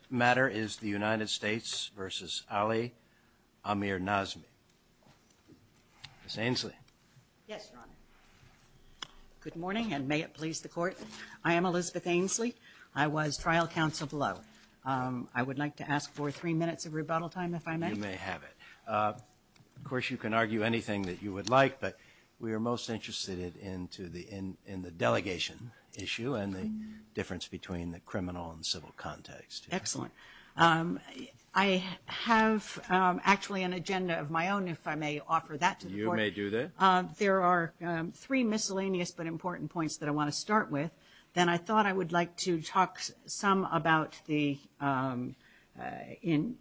This matter is the United States versus Ali Amirnazmi. Ms. Ainslie. Yes, Your Honor. Good morning, and may it please the Court. I am Elizabeth Ainslie. I was trial counsel below. I would like to ask for three minutes of rebuttal time, if I may. You may have it. Of course, you can argue anything that you would like, but we are most interested in the delegation issue and the difference between the criminal and civil context. Excellent. I have actually an agenda of my own, if I may offer that to the Court. You may do that. There are three miscellaneous but important points that I want to start with. Then I thought I would like to talk some about the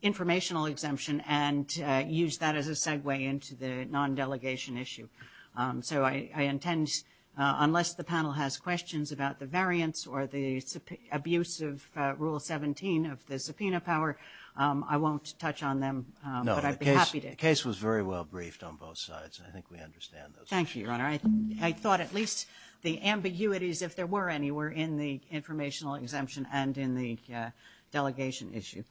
informational exemption and use that as a segue into the non-delegation issue. So I intend, unless the panel has questions about the variance or the abuse of Rule 17 of the subpoena power, I won't touch on them, but I'd be happy to. No, the case was very well briefed on both sides. I think we understand those issues. Thank you, Your Honor. I thought at least the ambiguities, if there were any, were in the informational exemption and in the delegation issue.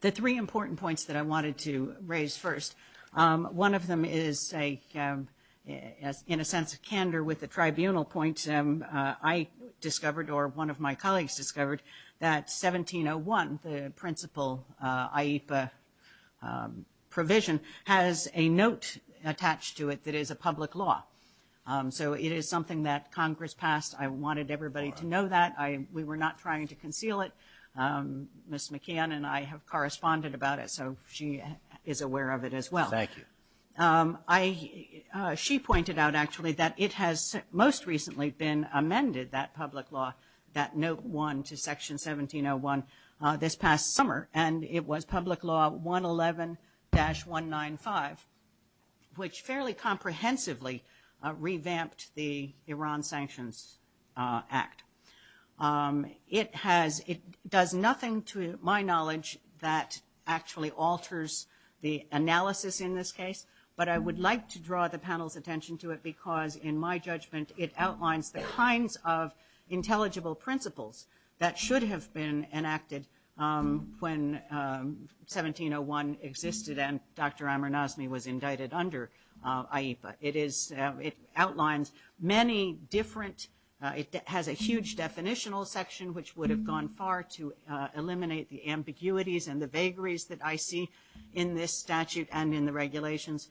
The three important points that I wanted to raise first, one of them is, in a sense, a candor with the tribunal points. I discovered, or one of my colleagues discovered, that 1701, the principal IEPA provision, has a note attached to it that is a public law. So it is something that Congress passed. I wanted everybody to know that. We were not trying to conceal it. Ms. McKeon and I have corresponded about it, so she is aware of it as well. Thank you. She pointed out, actually, that it has most recently been amended, that public law, that Note 1 to Section 1701, this past summer, and it was Public Law 111-195, which fairly comprehensively revamped the Iran Sanctions Act. It does nothing, to my knowledge, that actually alters the analysis in this case, but I would like to draw the panel's attention to it because, in my judgment, it outlines the kinds of intelligible principles that should have been enacted when 1701 existed and Dr. Amir Nazmi was indicted under IEPA. It outlines many different, it has a huge definitional section, which would have gone far to eliminate the ambiguities and the vagaries that I see in this statute and in the regulations.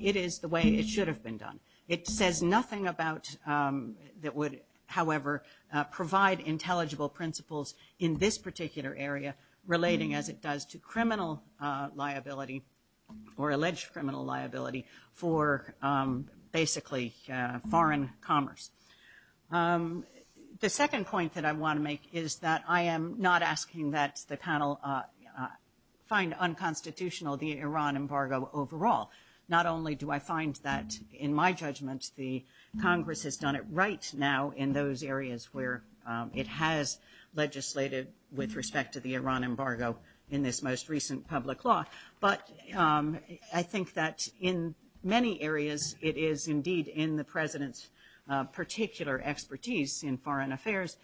It is the way it should have been done. It says nothing about, that would, however, provide intelligible principles in this particular area, relating, as it does, to criminal liability, or alleged criminal liability for, basically, foreign commerce. The second point that I want to make is that I am not asking that the panel find unconstitutional the Iran embargo overall. Not only do I find that, in my judgment, the Congress has done it right now in those areas where it has legislated with respect to the Iran embargo in this most recent public law, but I think that in many areas it is, indeed, in the President's particular expertise in foreign affairs,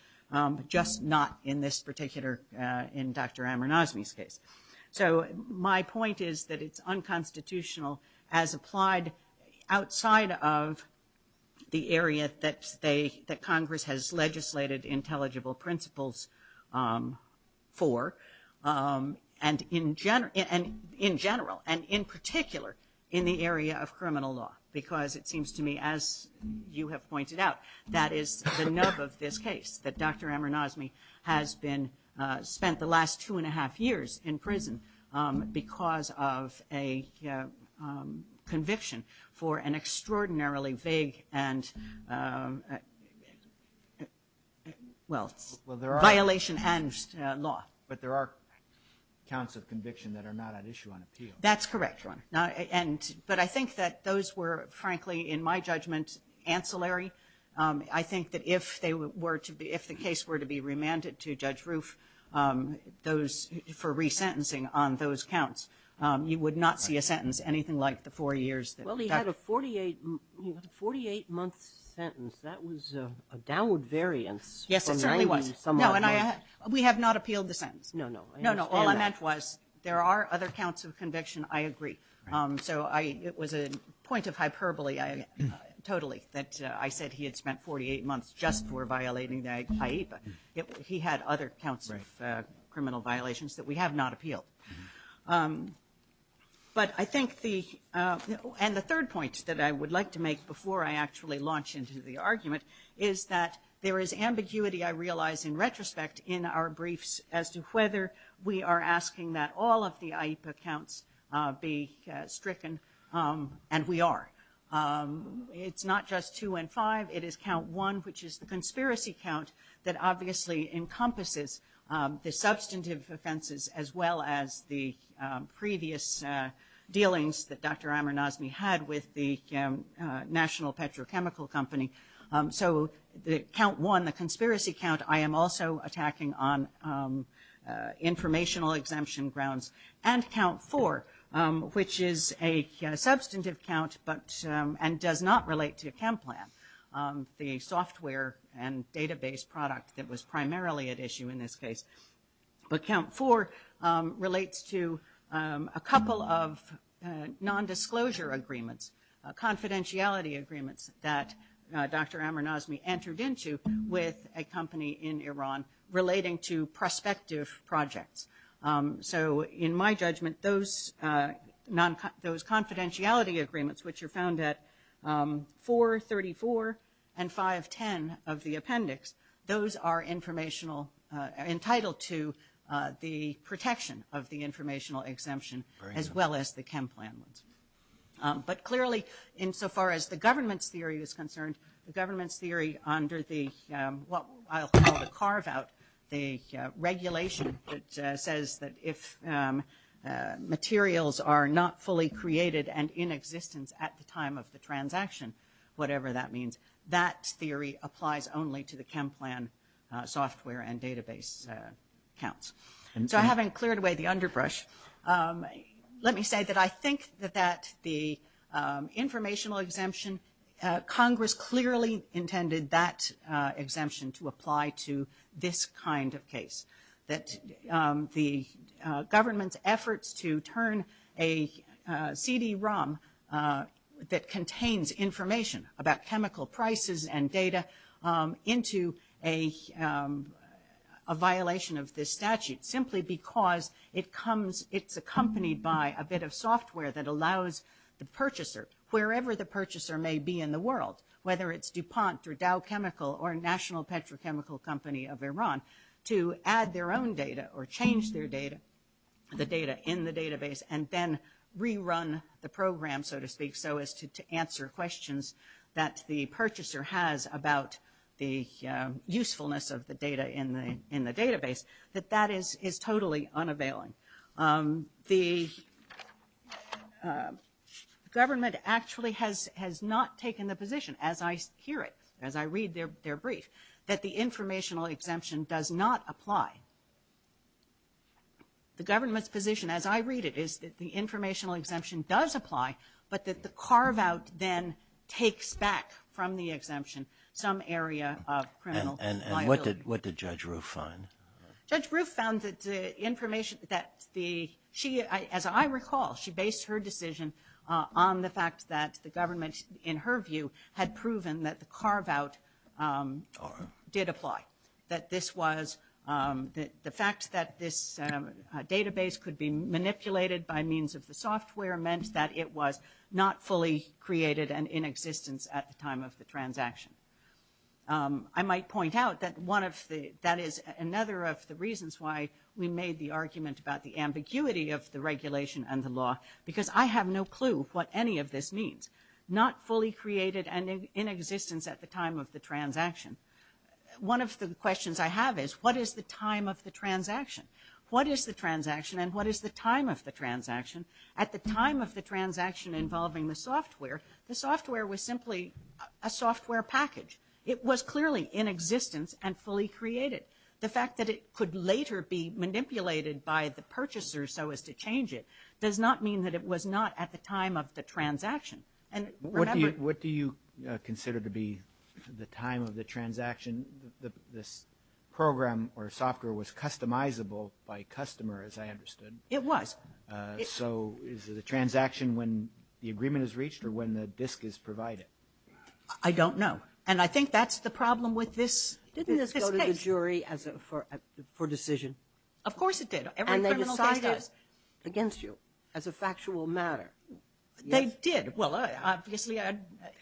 just not in this particular, in Dr. Amir Nazmi's case. So my point is that it's unconstitutional as applied outside of the area that Congress has legislated intelligible principles for. And in general, and in particular, in the area of criminal law, because it seems to me, as you have pointed out, that is the nub of this case, that Dr. Amir Nazmi has been, spent the last two and a half years in prison because of a conviction for an extraordinarily vague, and, well, violation and law. But there are counts of conviction that are not at issue on appeal. That's correct. But I think that those were, frankly, in my judgment, ancillary. I think that if the case were to be remanded to Judge Roof for resentencing on those counts, you would not see a sentence anything like the four years. Well, he had a 48-month sentence. That was a downward variance. Yes, it certainly was. We have not appealed the sentence. No, no, I understand that. No, no, all I meant was, there are other counts of conviction, I agree. So it was a point of hyperbole, totally, that I said he had spent 48 months just for violating the IEPA. He had other counts of criminal violations that we have not appealed. But I think the, and the third point that I would like to make before I actually launch into the argument, is that there is ambiguity, I realize, in retrospect in our briefs as to whether we are asking that all of the IEPA counts be stricken. And we are. It's not just two and five. It is count one, which is the conspiracy count, that obviously encompasses the substantive offenses, as well as the previous dealings that Dr. Amor-Nazmi had with the National Petrochemical Company. So the count one, the conspiracy count, I am also attacking on informational exemption grounds. And count four, which is a substantive count, but, and does not relate to CAMPLAN, the software and database product that was primarily at issue in this case. But count four relates to a couple of nondisclosure agreements, confidentiality agreements, that Dr. Amor-Nazmi entered into with a company in Iran, relating to prospective projects. So in my judgment, those confidentiality agreements, which are found at 434 and 510 of the appendix, those are informational, entitled to the protection of the informational exemption, as well as the CAMPLAN ones. But clearly, insofar as the government's theory is concerned, the government's theory under the, what I'll call the carve-out, the regulation that says that if materials are not fully created and in existence at the time of the transaction, whatever that means, that theory applies only to the CAMPLAN software and database counts. So having cleared away the underbrush, let me say that I think that the informational exemption, Congress clearly intended that exemption to apply to this kind of case. That the government's efforts to turn a CD-ROM that contains information about chemical prices and data into a violation of this statute, simply because it comes, it's accompanied by a bit of software that allows the purchaser, wherever the purchaser may be in the world, whether it's DuPont or Dow Chemical or National Petrochemical Company of Iran, to add their own data or change their data, the data in the database, and then rerun the program, so to speak, so as to answer questions that the purchaser has about the usefulness of the data in the database, that that is totally unavailing. The government actually has not taken the position, as I hear it, as I read their brief, that the informational exemption does not apply. The government's position, as I read it, is that the informational exemption does apply, but that the carve-out then takes back from the exemption some area of criminal liability. And what did Judge Roof find? Judge Roof found that the information that the, she, as I recall, she based her decision on the fact that the government, in her view, had proven that the carve-out did apply, that this was, the fact that this database could be manipulated by means of the software meant that it was not fully created and in existence at the time of the transaction. I might point out that one of the, that is another of the reasons why we made the argument about the ambiguity of the regulation and the law, because I have no clue what any of this means. Not fully created and in existence at the time of the transaction. One of the questions I have is, what is the time of the transaction? What is the transaction, and what is the time of the transaction? At the time of the transaction involving the software, the software was simply a software package. It was clearly in existence and fully created. The fact that it could later be manipulated by the purchaser so as to change it does not mean that it was not at the time of the transaction. And remember... What do you consider to be the time of the transaction? This program or software was customizable by customer, It was. So is it a transaction when the agreement is reached or when the disk is provided? I don't know. And I think that's the problem with this case. Didn't this go to the jury for decision? Of course it did. Every criminal case does. And they decided against you as a factual matter. They did. Well, obviously,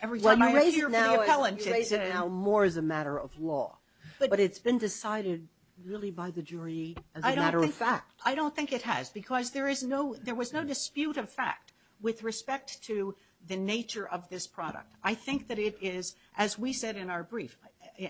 every time I appear for the appellant, it's now more as a matter of law. But it's been decided really by the jury as a matter of fact. I don't think it has, because there was no dispute of fact with respect to the nature of this product. I think that it is, as we said in our brief,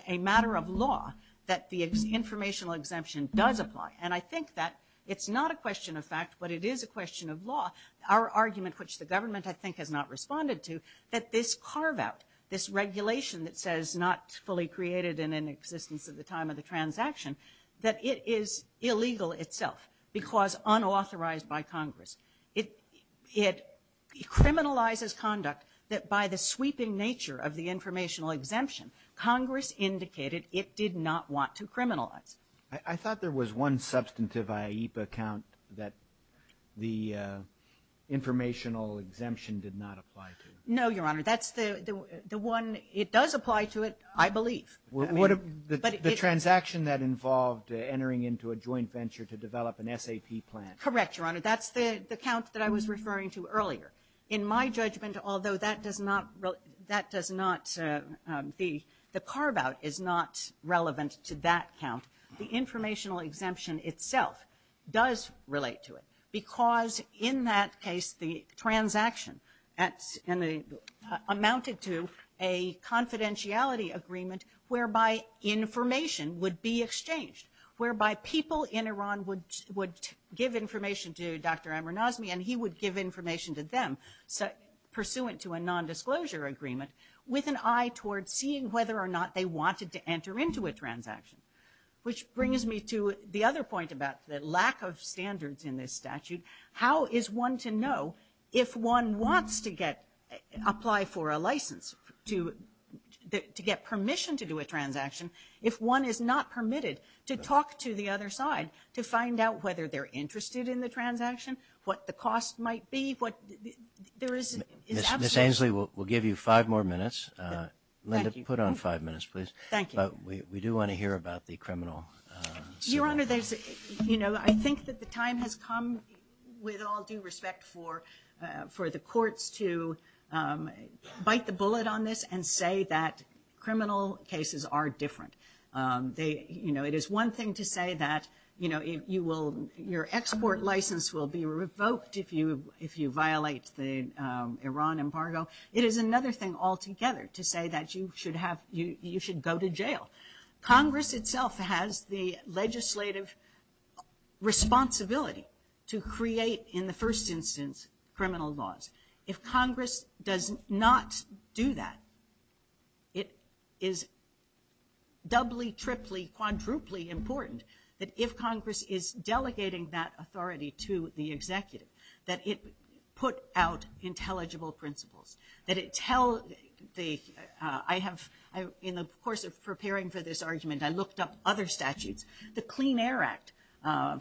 a matter of law that the informational exemption does apply. And I think that it's not a question of fact, but it is a question of law. Our argument, which the government, I think, has not responded to, that this carve-out, this regulation that says not fully created in an existence at the time of the transaction, that it is illegal itself because unauthorized by Congress. It criminalizes conduct that by the sweeping nature of the informational exemption, Congress indicated it did not want to criminalize. I thought there was one substantive IEAP account that the informational exemption did not apply to. No, Your Honor. That's the one, it does apply to it, I believe. The transaction that involved entering into a joint venture to develop an SAP plan. Correct, Your Honor. That's the account that I was referring to earlier. In my judgment, although that does not, that does not, the carve-out is not relevant to that account. The informational exemption itself does relate to it because in that case, the transaction amounted to a confidentiality agreement whereby information would be exchanged, whereby people in Iran would give information to Dr. Amir Nazmi and he would give information to them, pursuant to a nondisclosure agreement, with an eye toward seeing whether or not they wanted to enter into a transaction. Which brings me to the other point about the lack of standards in this statute. How is one to know if one wants to apply for a license, to get permission to do a transaction, if one is not permitted to talk to the other side to find out whether they're interested in the transaction, what the cost might be? Ms. Ainslie, we'll give you five more minutes. Linda, put on five minutes, please. Thank you. We do want to hear about the criminal... Your Honor, I think that the time has come, with all due respect for the courts, to bite the bullet on this and say that it is one thing to say that your export license will be revoked if you violate the Iran embargo. It is another thing altogether to say that you should go to jail. Congress itself has the legislative responsibility to create, in the first instance, criminal laws. If Congress does not do that, it is doubly, triply, quadruply important that if Congress is delegating that authority to the executive, that it put out intelligible principles, that it tell the... In the course of preparing for this argument, I looked up other statutes. The Clean Air Act,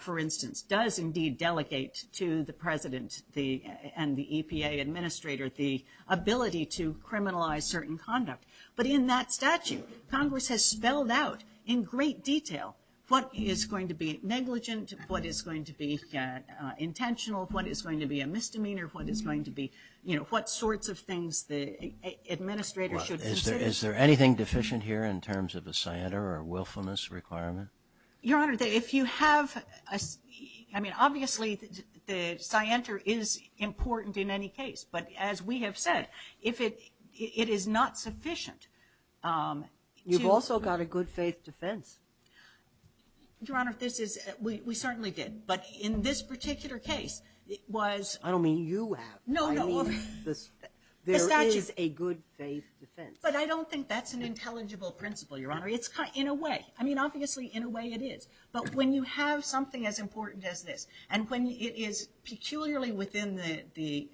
for instance, does indeed delegate to the president and the EPA administrator the ability to criminalize certain conduct. But in that statute, Congress has spelled out, in great detail, what is going to be negligent, what is going to be intentional, what is going to be a misdemeanor, what is going to be... What sorts of things the administrator should consider. Is there anything deficient here in terms of a scienter or willfulness requirement? Your Honor, if you have... Obviously, the scienter is important in any case, but as we have said, if it is not sufficient... You've also got a good faith defense. Your Honor, we certainly did. But in this particular case, it was... I don't mean you have. No, no. I mean there is a good faith defense. But I don't think that's an intelligible principle, Your Honor. In a way. I mean, obviously, in a way, it is. But when you have something as important as this, and when it is peculiarly within the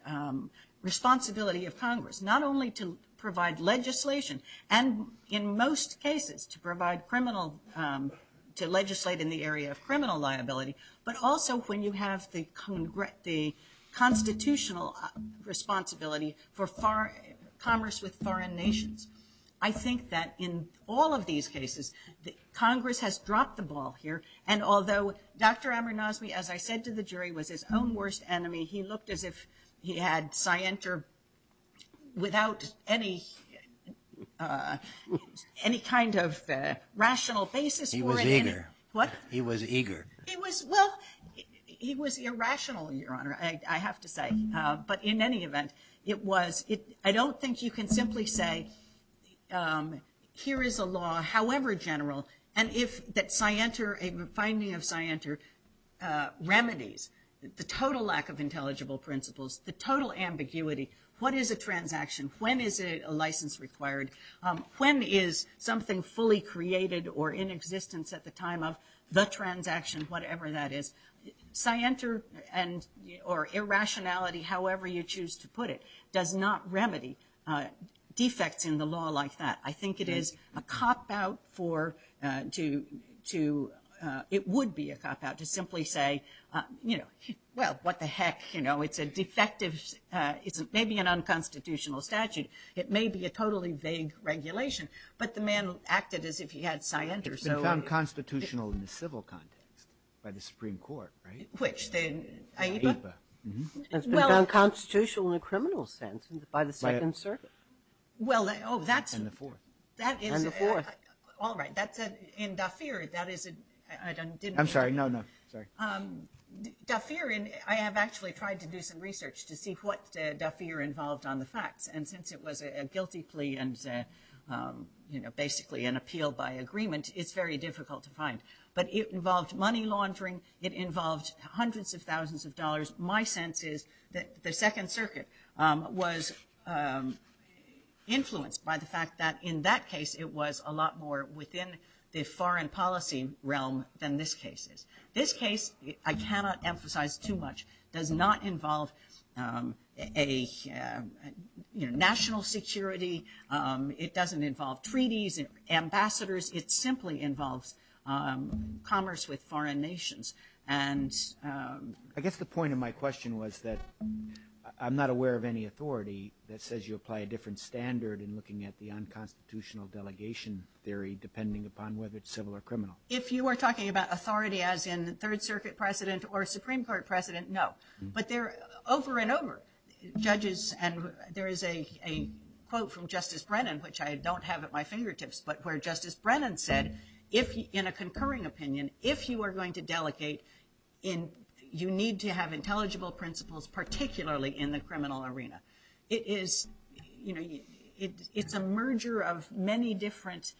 responsibility of Congress, not only to provide legislation, and in most cases to provide criminal... To legislate in the area of criminal liability, but also when you have the constitutional responsibility for commerce with foreign nations, I think that in all of these cases, Congress has dropped the ball here. And although Dr. Amir Nazmi, as I said to the jury, was his own worst enemy, he looked as if he had scienter without any kind of rational basis. He was eager. What? He was eager. Well, he was irrational, Your Honor, I have to say. But in any event, it was... I don't think you can simply say, here is a law, however general, and if that scienter, a finding of scienter, remedies the total lack of intelligible principles, the total ambiguity, what is a transaction? When is a license required? When is something fully created or in existence at the time of the transaction, whatever that is? Scienter or irrationality, however you choose to put it, does not remedy defects in the law like that. I think it is a cop-out for... It would be a cop-out to simply say, well, what the heck, it's a defective... It's maybe an unconstitutional statute. It may be a totally vague regulation, but the man acted as if he had scienter, so... It's been found constitutional in the civil context by the Supreme Court, right? Which? AIPA? AIPA. It's been found constitutional in a criminal sense by the Second Circuit. Well, oh, that's... And the fourth. And the fourth. All right, that's... In D'Affir, that is a... I'm sorry, no, no, sorry. D'Affir, I have actually tried to do some research to see what D'Affir involved on the facts, and since it was a guilty plea and basically an appeal by agreement, it's very difficult to find. But it involved money laundering, it involved hundreds of thousands of dollars. My sense is that the Second Circuit was influenced by the fact that in that case it was a lot more within the foreign policy realm than this case is. This case, I cannot emphasize too much, does not involve a, you know, national security, it doesn't involve treaties, ambassadors, it simply involves commerce with foreign nations. And... I guess the point of my question was that I'm not aware of any authority that says you apply a different standard in looking at the unconstitutional delegation theory depending upon whether it's civil or criminal. If you are talking about authority as in Third Circuit precedent or Supreme Court precedent, no. But there... Over and over, judges... And there is a quote from Justice Brennan, which I don't have at my fingertips, but where Justice Brennan said, in a concurring opinion, if you are going to delegate, you need to have intelligible principles, particularly in the criminal arena. It is, you know, it's a merger of many different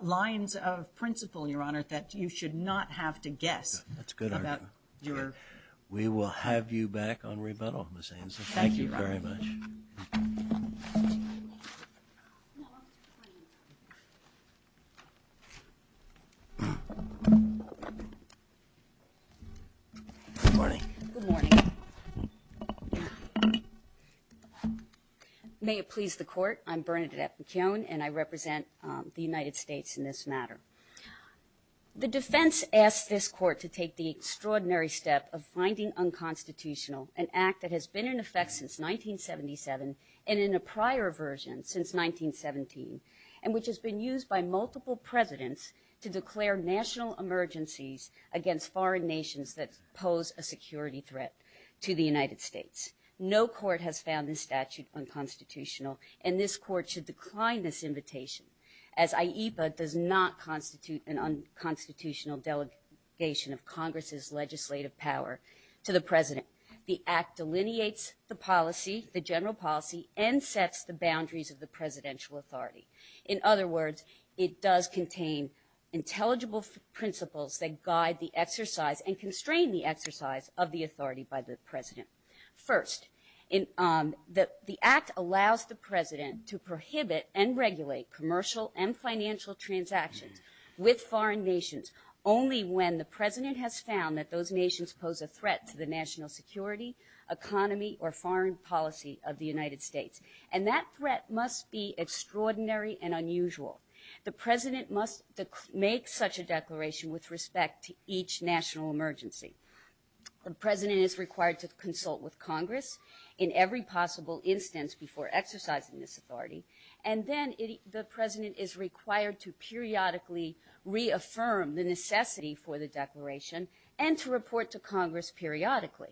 lines of principle, Your Honor, that you should not have to guess about your... We will have you back on rebuttal, Ms. Ainslie. Thank you very much. Good morning. Good morning. May it please the Court, I'm Bernadette McKeown, and I represent the United States in this matter. The defense asked this Court to take the extraordinary step of finding unconstitutional an act that has been in effect since 1977, and in a prior version since 1917, and which has been used by multiple presidents to declare national emergencies against foreign nations that pose a security threat to the United States. No court has found this statute unconstitutional, and this Court should decline this invitation, as IEPA does not constitute an unconstitutional delegation of Congress's legislative power to the president. The act delineates the policy, the general policy, and sets the boundaries of the presidential authority. In other words, it does contain intelligible principles that guide the exercise and constrain the exercise of the authority by the president. First, the act allows the president to prohibit and regulate commercial and financial transactions with foreign nations only when the president has found that those nations pose a threat to the national security, economy, or foreign policy of the United States. And that threat must be extraordinary and unusual. The president must make such a declaration with respect to each national emergency. The president is required to consult with Congress in every possible instance before exercising this authority, and then the president is required to periodically reaffirm the necessity for the declaration, and to report to Congress periodically.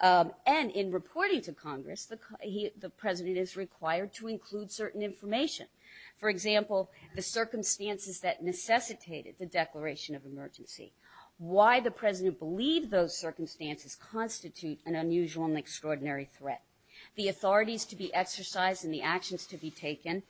And in reporting to Congress, the president is required to include certain information. For example, the circumstances that necessitated the declaration of emergency. Why the president believed those circumstances constitute an unusual and extraordinary threat. The authorities to be exercised and the actions to be taken,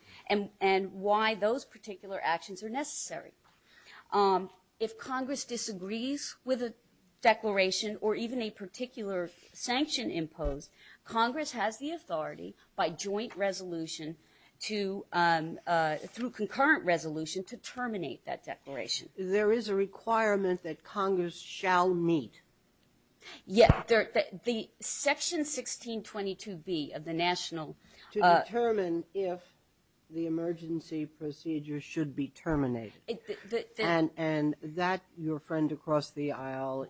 If Congress disagrees with a declaration, or even a particular sanction imposed, Congress has the authority by joint resolution to, through concurrent resolution, to terminate that declaration. There is a requirement that Congress shall meet. Yeah, the section 1622B of the national... To determine if the emergency procedure should be terminated. And that, your friend across the aisle,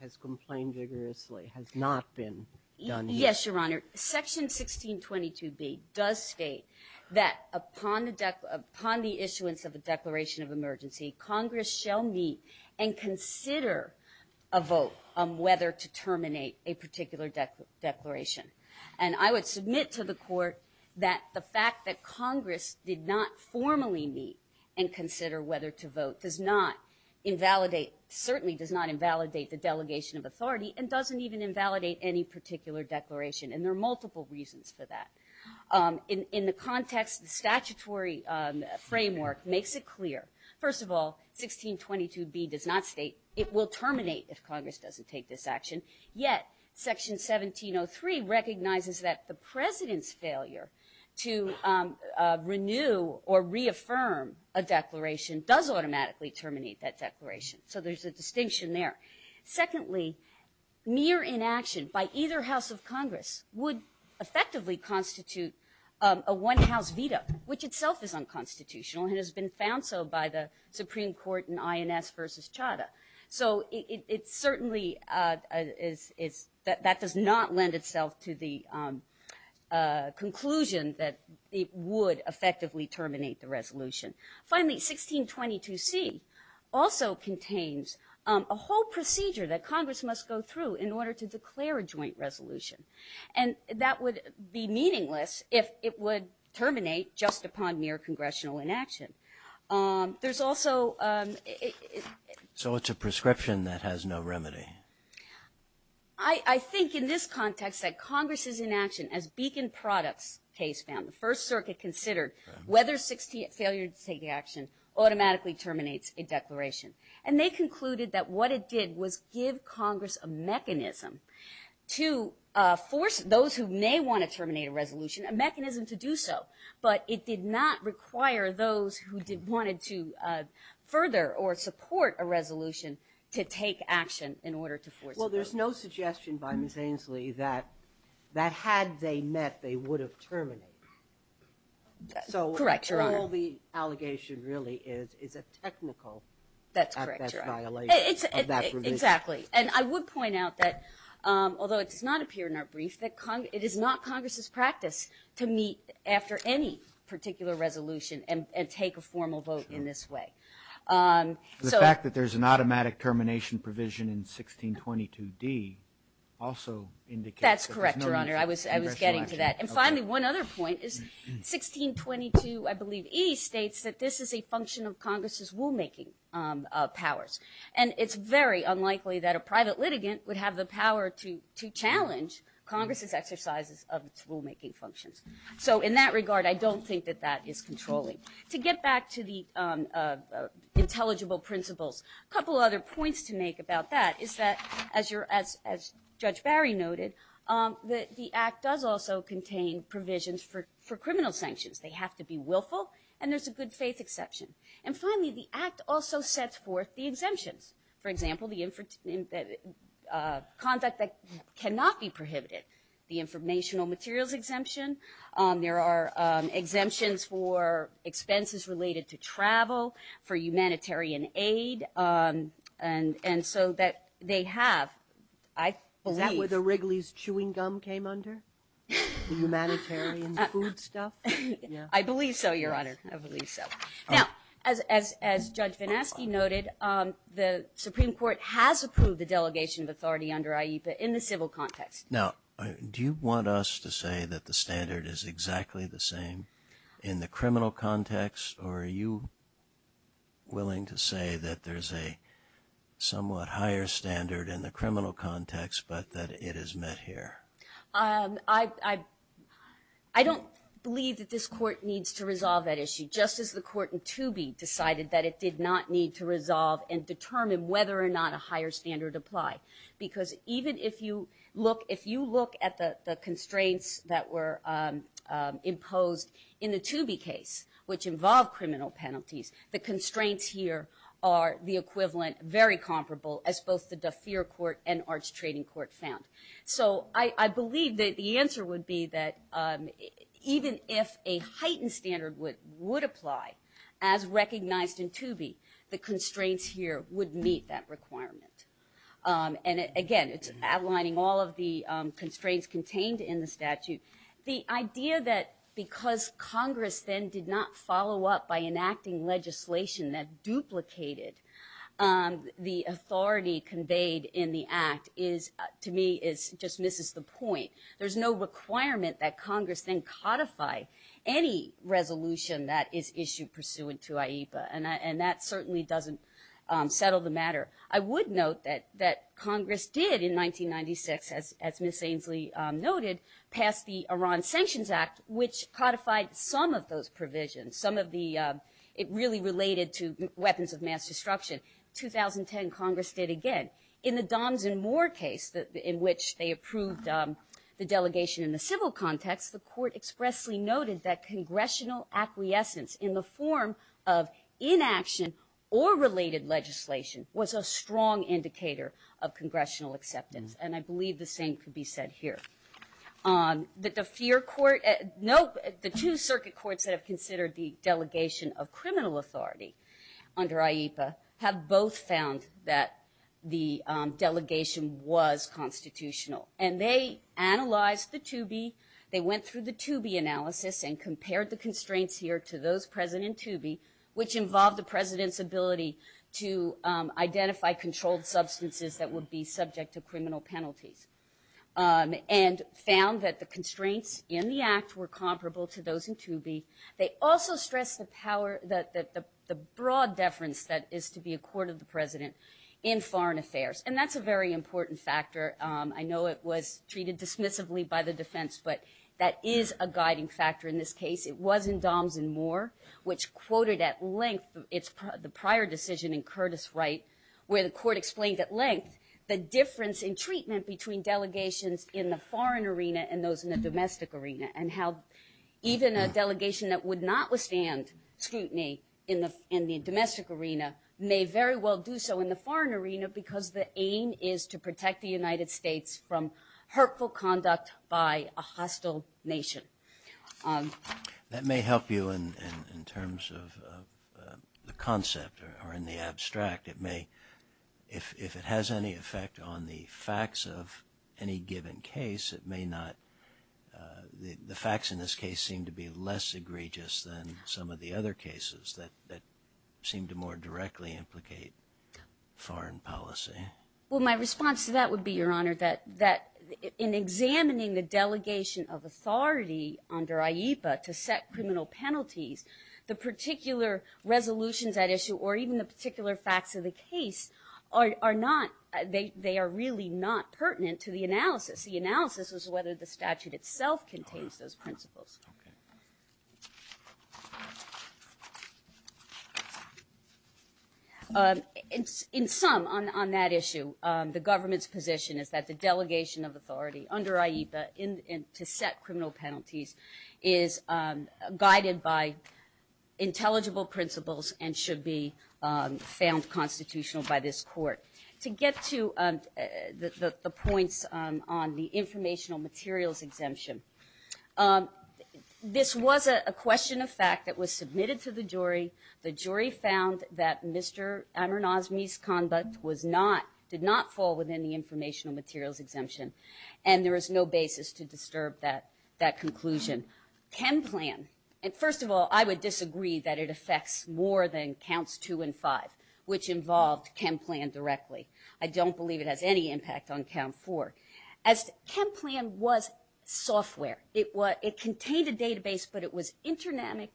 has complained vigorously, has not been done yet. Yes, Your Honor, section 1622B does state that upon the issuance of a declaration of emergency, Congress shall meet and consider a vote on whether to terminate a particular declaration. And I would submit to the Court that the fact that Congress did not formally meet and consider whether to vote certainly does not invalidate the delegation of authority and doesn't even invalidate any particular declaration. And there are multiple reasons for that. In the context, the statutory framework makes it clear. First of all, 1622B does not state it will terminate if Congress doesn't take this action. Yet, section 1703 recognizes that the president's failure to renew or reaffirm a declaration does automatically terminate that declaration. So there's a distinction there. Secondly, mere inaction by either house of Congress would effectively constitute a one-house veto, which itself is unconstitutional and has been found so by the Supreme Court in INS versus Chadha. So it certainly is... That does not lend itself to the conclusion that it would effectively terminate the resolution. Finally, 1622C also contains a whole procedure that Congress must go through in order to declare a joint resolution. And that would be meaningless if it would terminate just upon mere congressional inaction. There's also... So it's a prescription that has no remedy. I think in this context that Congress's inaction as Beacon Products case found, the First Circuit considered whether failure to take action automatically terminates a declaration. And they concluded that what it did was give Congress a mechanism to force those who may want to terminate a resolution, a mechanism to do so. But it did not require those who wanted to further or support a resolution to take action in order to force a resolution. Well, there's no suggestion by Ms. Ainslie that had they met, they would have terminated. Correct, Your Honor. So all the allegation really is is a technical... That's correct, Your Honor. Exactly. And I would point out that, although it does not appear in our brief, it is not Congress's practice to meet after any particular resolution and take a formal vote in this way. The fact that there's an automatic termination provision in 1622D also indicates... That's correct, Your Honor. I was getting to that. And finally, one other point is 1622E states that this is a function of Congress's rulemaking powers. And it's very unlikely that a private litigant would have the power to challenge Congress's exercises of its rulemaking functions. So in that regard, I don't think that that is controlling. To get back to the intelligible principles, a couple other points to make about that is that, as Judge Barry noted, the Act does also contain provisions for criminal sanctions. They have to be willful, and there's a good faith exception. And finally, the Act also sets forth the exemptions. For example, conduct that cannot be prohibited. The informational materials exemption. There are exemptions for expenses related to travel, for humanitarian aid, and so that they have, I believe... Is that where the Wrigley's chewing gum came under? The humanitarian food stuff? I believe so, Your Honor. Now, as Judge Van Aske noted, the Supreme Court has approved the delegation of authority under IEPA in the civil context. Now, do you want us to say that the standard is exactly the same in the criminal context, or are you willing to say that there's a somewhat higher standard in the criminal context, but that it is met here? I don't believe that this Court needs to resolve that issue, just as the Court in Toobie decided that it did not need to resolve and determine whether or not a higher standard apply. Because even if you look at the constraints that were imposed in the Toobie case, which involved criminal penalties, the constraints here are the equivalent, very comparable, as both the DeFeer Court and Arch Trading Court found. So I believe that the answer would be that even if a heightened standard would apply, as recognized in Toobie, the constraints here would meet that requirement. And again, it's the constraints contained in the statute. The idea that because Congress then did not follow up by enacting legislation that duplicated the authority conveyed in the Act, to me, just misses the point. There's no requirement that Congress then codify any resolution that is issued pursuant to AIPA, and that certainly doesn't settle the matter. I would note that Congress did in 1996, as Ms. Ainsley noted, pass the Iran Sanctions Act, which codified some of those provisions. It really related to weapons of mass destruction. 2010, Congress did again. In the Doms and Moor case, in which they approved the delegation in the civil context, the Court expressly noted that congressional acquiescence in the form of inaction or related legislation was a strong indicator of congressional acceptance. And I believe the same could be said here. That the two circuit courts that have considered the delegation of criminal authority under AIPA have both found that the delegation was constitutional. And they analyzed the Toobie, they went through the Toobie analysis and compared the constraints here to those present in Toobie, which involved the President's ability to identify controlled substances that would be subject to criminal penalties. And found that the constraints in the act were comparable to those in Toobie. They also stressed the power, the broad deference that is to be a court of the President in foreign affairs. And that's a very important factor. I know it was treated dismissively by the defense, but that is a guiding factor in this case. It was in Doms and Moor, which quoted at length the prior decision in Curtis Wright, where the court explained at length the difference in treatment between delegations in the foreign arena and those in the domestic arena. And how even a delegation that would not withstand scrutiny in the domestic arena may very well do so in the foreign arena because the aim is to protect the United States from hurtful conduct by a hostile nation. That may help you in terms of the concept, or in the abstract, it may if it has any effect on the facts of any given case, it may not the facts in this case seem to be less egregious than some of the other cases that seem to more directly implicate foreign policy. Well, my response to that would be, Your Honor, that in examining the delegation of authority under IEPA to set criminal penalties, the particular resolutions at issue or even the particular facts of the case are not, they are really not pertinent to the analysis. The analysis is whether the statute itself contains those principles. In sum, on that issue, the government's position is that the delegation of authority under IEPA to set criminal penalties is guided by intelligible principles and should be found constitutional by this court. To get to the points on the informational materials exemption, this was a question of fact that was submitted to the jury. The jury found that Mr. Amirnaz's misconduct was not, did not fall within the informational materials exemption and there is no basis to disturb that conclusion. ChemPlan, first of all, I would disagree that it affects more than counts two and five which involved ChemPlan directly. I don't believe it has any impact on count four. ChemPlan was software. It contained a database but it was interactive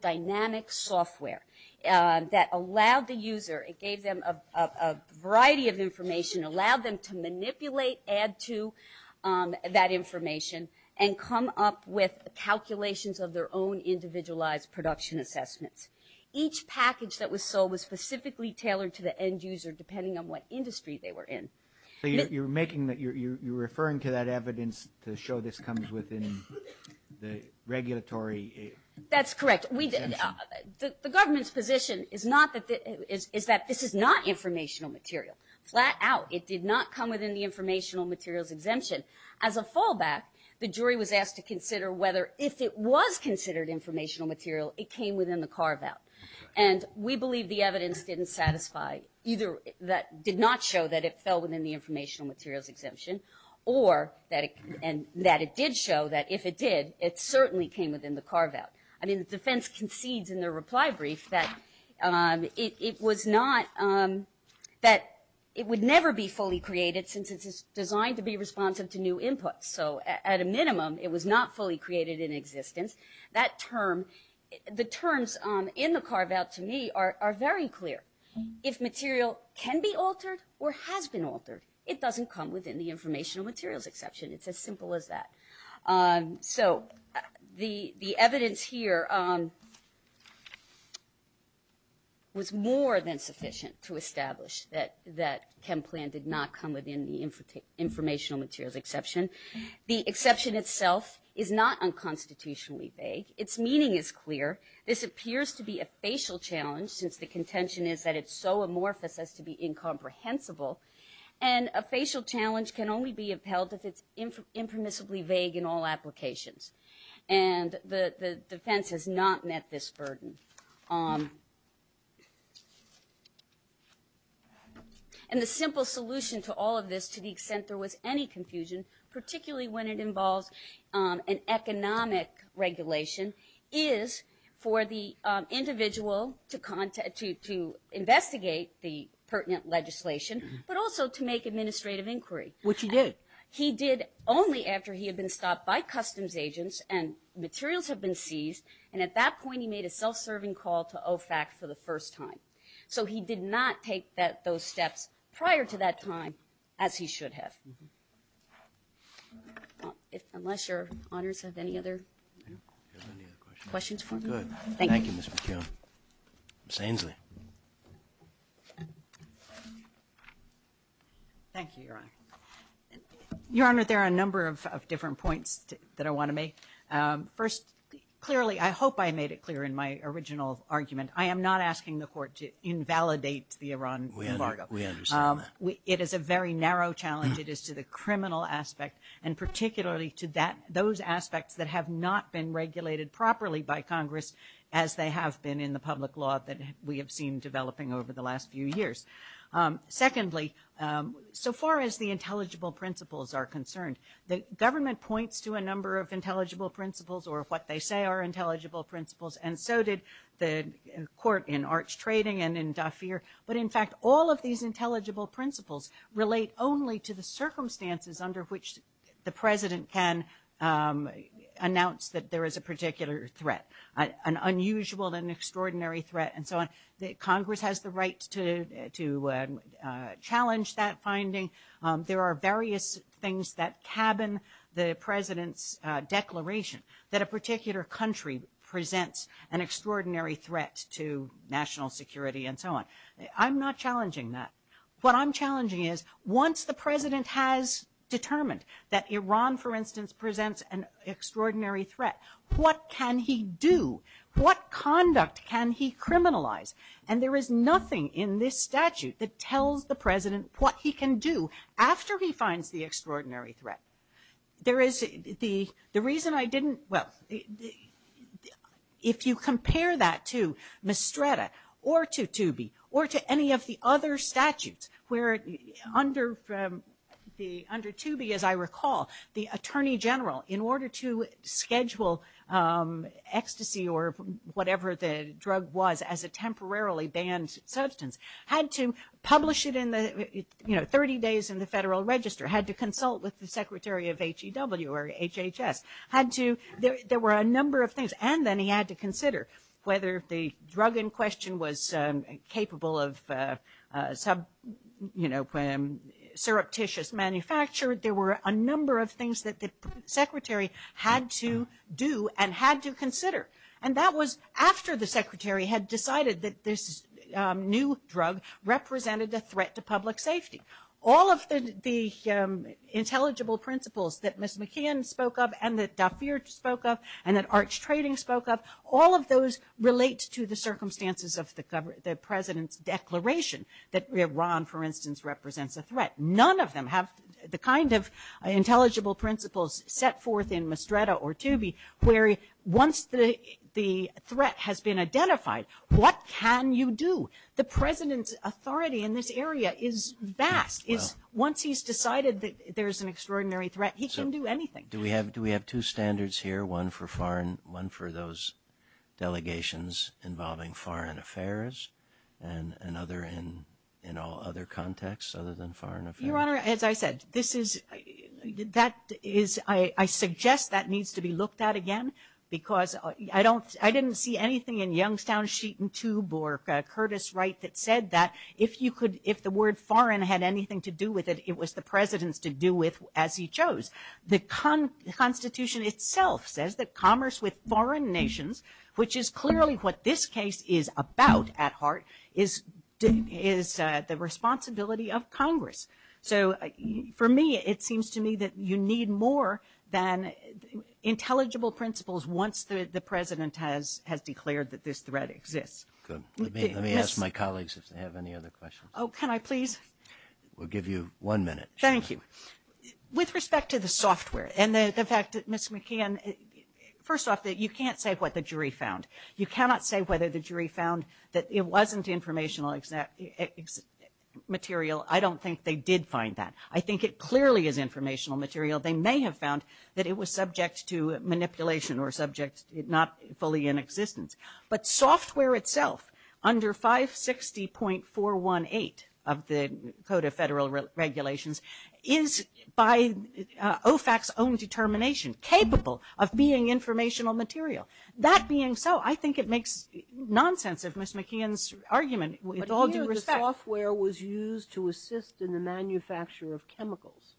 dynamic software that allowed the user, it gave them a variety of information, allowed them to manipulate, add to that information and come up with calculations of their own individualized production assessments. Each package that was sold was specifically tailored to the end user depending on what industry they were in. You're referring to that evidence to show this comes within the regulatory exemption. That's correct. The government's position is that this is not informational material. Flat out, it did not come within the informational materials exemption. As a fallback, the jury was asked to consider whether if it was considered informational material, it came within the carve-out. And we believe the evidence didn't satisfy, either that did not show that it fell within the informational materials exemption or that it did show that if it did, it certainly came within the carve-out. I mean, the defense concedes in their reply brief that it was not, that it would never be fully created since it's designed to be responsive to new inputs. So at a minimum, it was not fully created in existence. That term, the terms in the carve-out to me are very clear. If material can be altered or has been altered, it doesn't come within the informational materials exemption. It's as simple as that. So the evidence here was more than sufficient to establish that ChemPlan did not come within the informational materials exception. The exception itself is not unconstitutionally vague. Its meaning is clear. This appears to be a facial challenge since the contention is that it's so amorphous as to be incomprehensible. And a facial challenge can only be upheld if it's impermissibly vague in all applications. And the defense has not met this burden. And the simple solution to all of this to the extent there was any confusion, particularly when it involves an economic regulation, is for the individual to investigate the pertinent legislation, but also to make administrative inquiry. He did only after he had been stopped by customs agents and materials had been seized, and at that point he made a self-serving call to OFAC for the first time. So he did not take those steps prior to that time as he should have. Unless your honors have any other questions for me? Thank you. Thank you, Your Honor. Your Honor, there are a number of different points that I want to make. First, clearly, I hope I made it clear in my original argument. I am not asking the Court to invalidate the Iran embargo. It is a very narrow challenge. It is to the criminal aspect and particularly to those aspects that have not been regulated properly by Congress as they have been in the public law that we have seen developing over the last few years. Secondly, so far as the intelligible principles are concerned, the government points to a number of intelligible principles or what they say are intelligible principles and so did the Court in Arch Trading and in Dafir. But in fact, all of these intelligible principles relate only to the circumstances under which the President can announce that there is a particular threat, an unusual and extraordinary threat and so on. Congress has the right to challenge that finding. There are various things that cabin the President's declaration that a particular country presents an extraordinary threat to national security and so on. I'm not challenging that. What I'm challenging is once the President has determined that Iran for instance presents an extraordinary threat, what can he do? What conduct can he criminalize? And there is nothing in this statute that he can do after he finds the extraordinary threat. The reason I didn't well, if you compare that to Mestreda or to any of the other statutes where under as I recall the Attorney General in order to schedule ecstasy or whatever the drug was as a temporarily banned substance had to 30 days in the Federal Register, had to consult with the Secretary of HEW or HHS, had to, there were a number of things and then he had to consider whether the drug in question was capable of surreptitious manufacture, there were a number of things that the Secretary had to do and had to consider. And that was after the Secretary had decided that this new threat to public safety. All of the intelligible principles that Ms. McKeon spoke of and that Dafir spoke of and that Arch Trading spoke of, all of those relate to the circumstances of the President's declaration that Iran for instance represents a threat. None of them have the kind of intelligible principles set forth in Mestreda or Tubi where once the threat has been identified what can you do? The President's authority in this area is vast. Once he's decided that there's an extraordinary threat, he can do anything. Do we have two standards here? One for foreign, one for those delegations involving foreign affairs and another in all other contexts other than foreign affairs? Your Honor, as I said this is, that is, I suggest that needs to be looked at again because I didn't see anything in Youngstown Sheet and Tube or Curtis Wright that said that if you could, if the word foreign had anything to do with it it was the President's to do with as he chose. The Constitution itself says that commerce with foreign nations, which is clearly what this case is about at heart, is the responsibility of Congress. So for me it seems to me that you need more than intelligible principles once the President has declared that this threat exists. Good. Let me ask my colleagues if they have any other questions. Oh, can I please? We'll give you one minute. Thank you. With respect to the software and the fact that Ms. McCann, first off that you can't say what the jury found. You cannot say whether the jury found that it wasn't informational material. I don't think they did find that. I think it clearly is informational material. They may have found that it was subject to fully in existence. But software itself under 560.418 of the Code of Federal Regulations is by OFAC's own determination capable of being informational material. That being so, I think it makes nonsense of Ms. McCann's argument with all due respect. But here the software was used to assist in the manufacture of chemicals.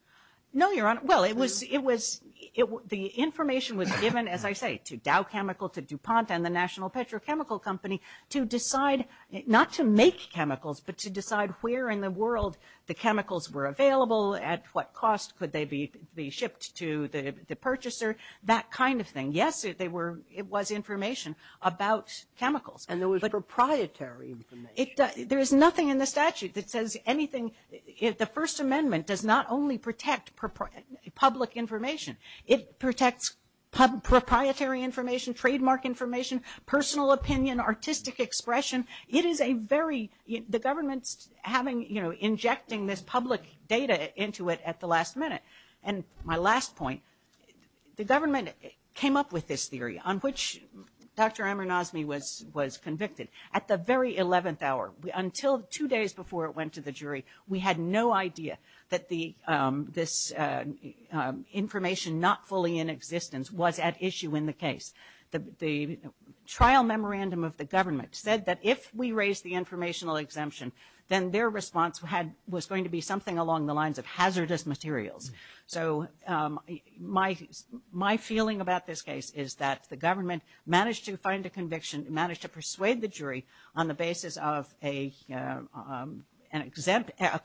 No, Your Honor. Well, it was the information was given, as I say, to Dow Chemical, to DuPont and the National Petrochemical Company to decide, not to make chemicals, but to decide where in the world the chemicals were available, at what cost could they be shipped to the purchaser, that kind of thing. Yes, it was information about chemicals. And there was proprietary information. There is nothing in the statute that says anything the First Amendment does not only protect public information. It protects proprietary information, trademark information, personal opinion, artistic expression. It is a very the government's having, you know, injecting this public data into it at the last minute. And my last point, the government came up with this theory, on which Dr. Amirnazmi was convicted. At the very eleventh hour, until two days before it went to the jury, we had no idea that this information not fully in existence was at issue in the case. The trial memorandum of the government said that if we raise the informational exemption, then their response was going to be something along the lines of hazardous materials. So my feeling about this case is that the government managed to find a conviction, managed to persuade the jury on the basis of a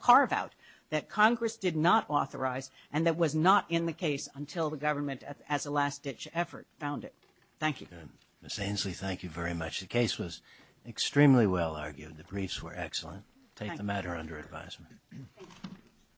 carve-out that Congress did not authorize and that was not in the case until the government, as a last-ditch effort, found it. Thank you. Ms. Ainslie, thank you very much. The case was extremely well argued. The briefs were excellent. Take the matter under advisement.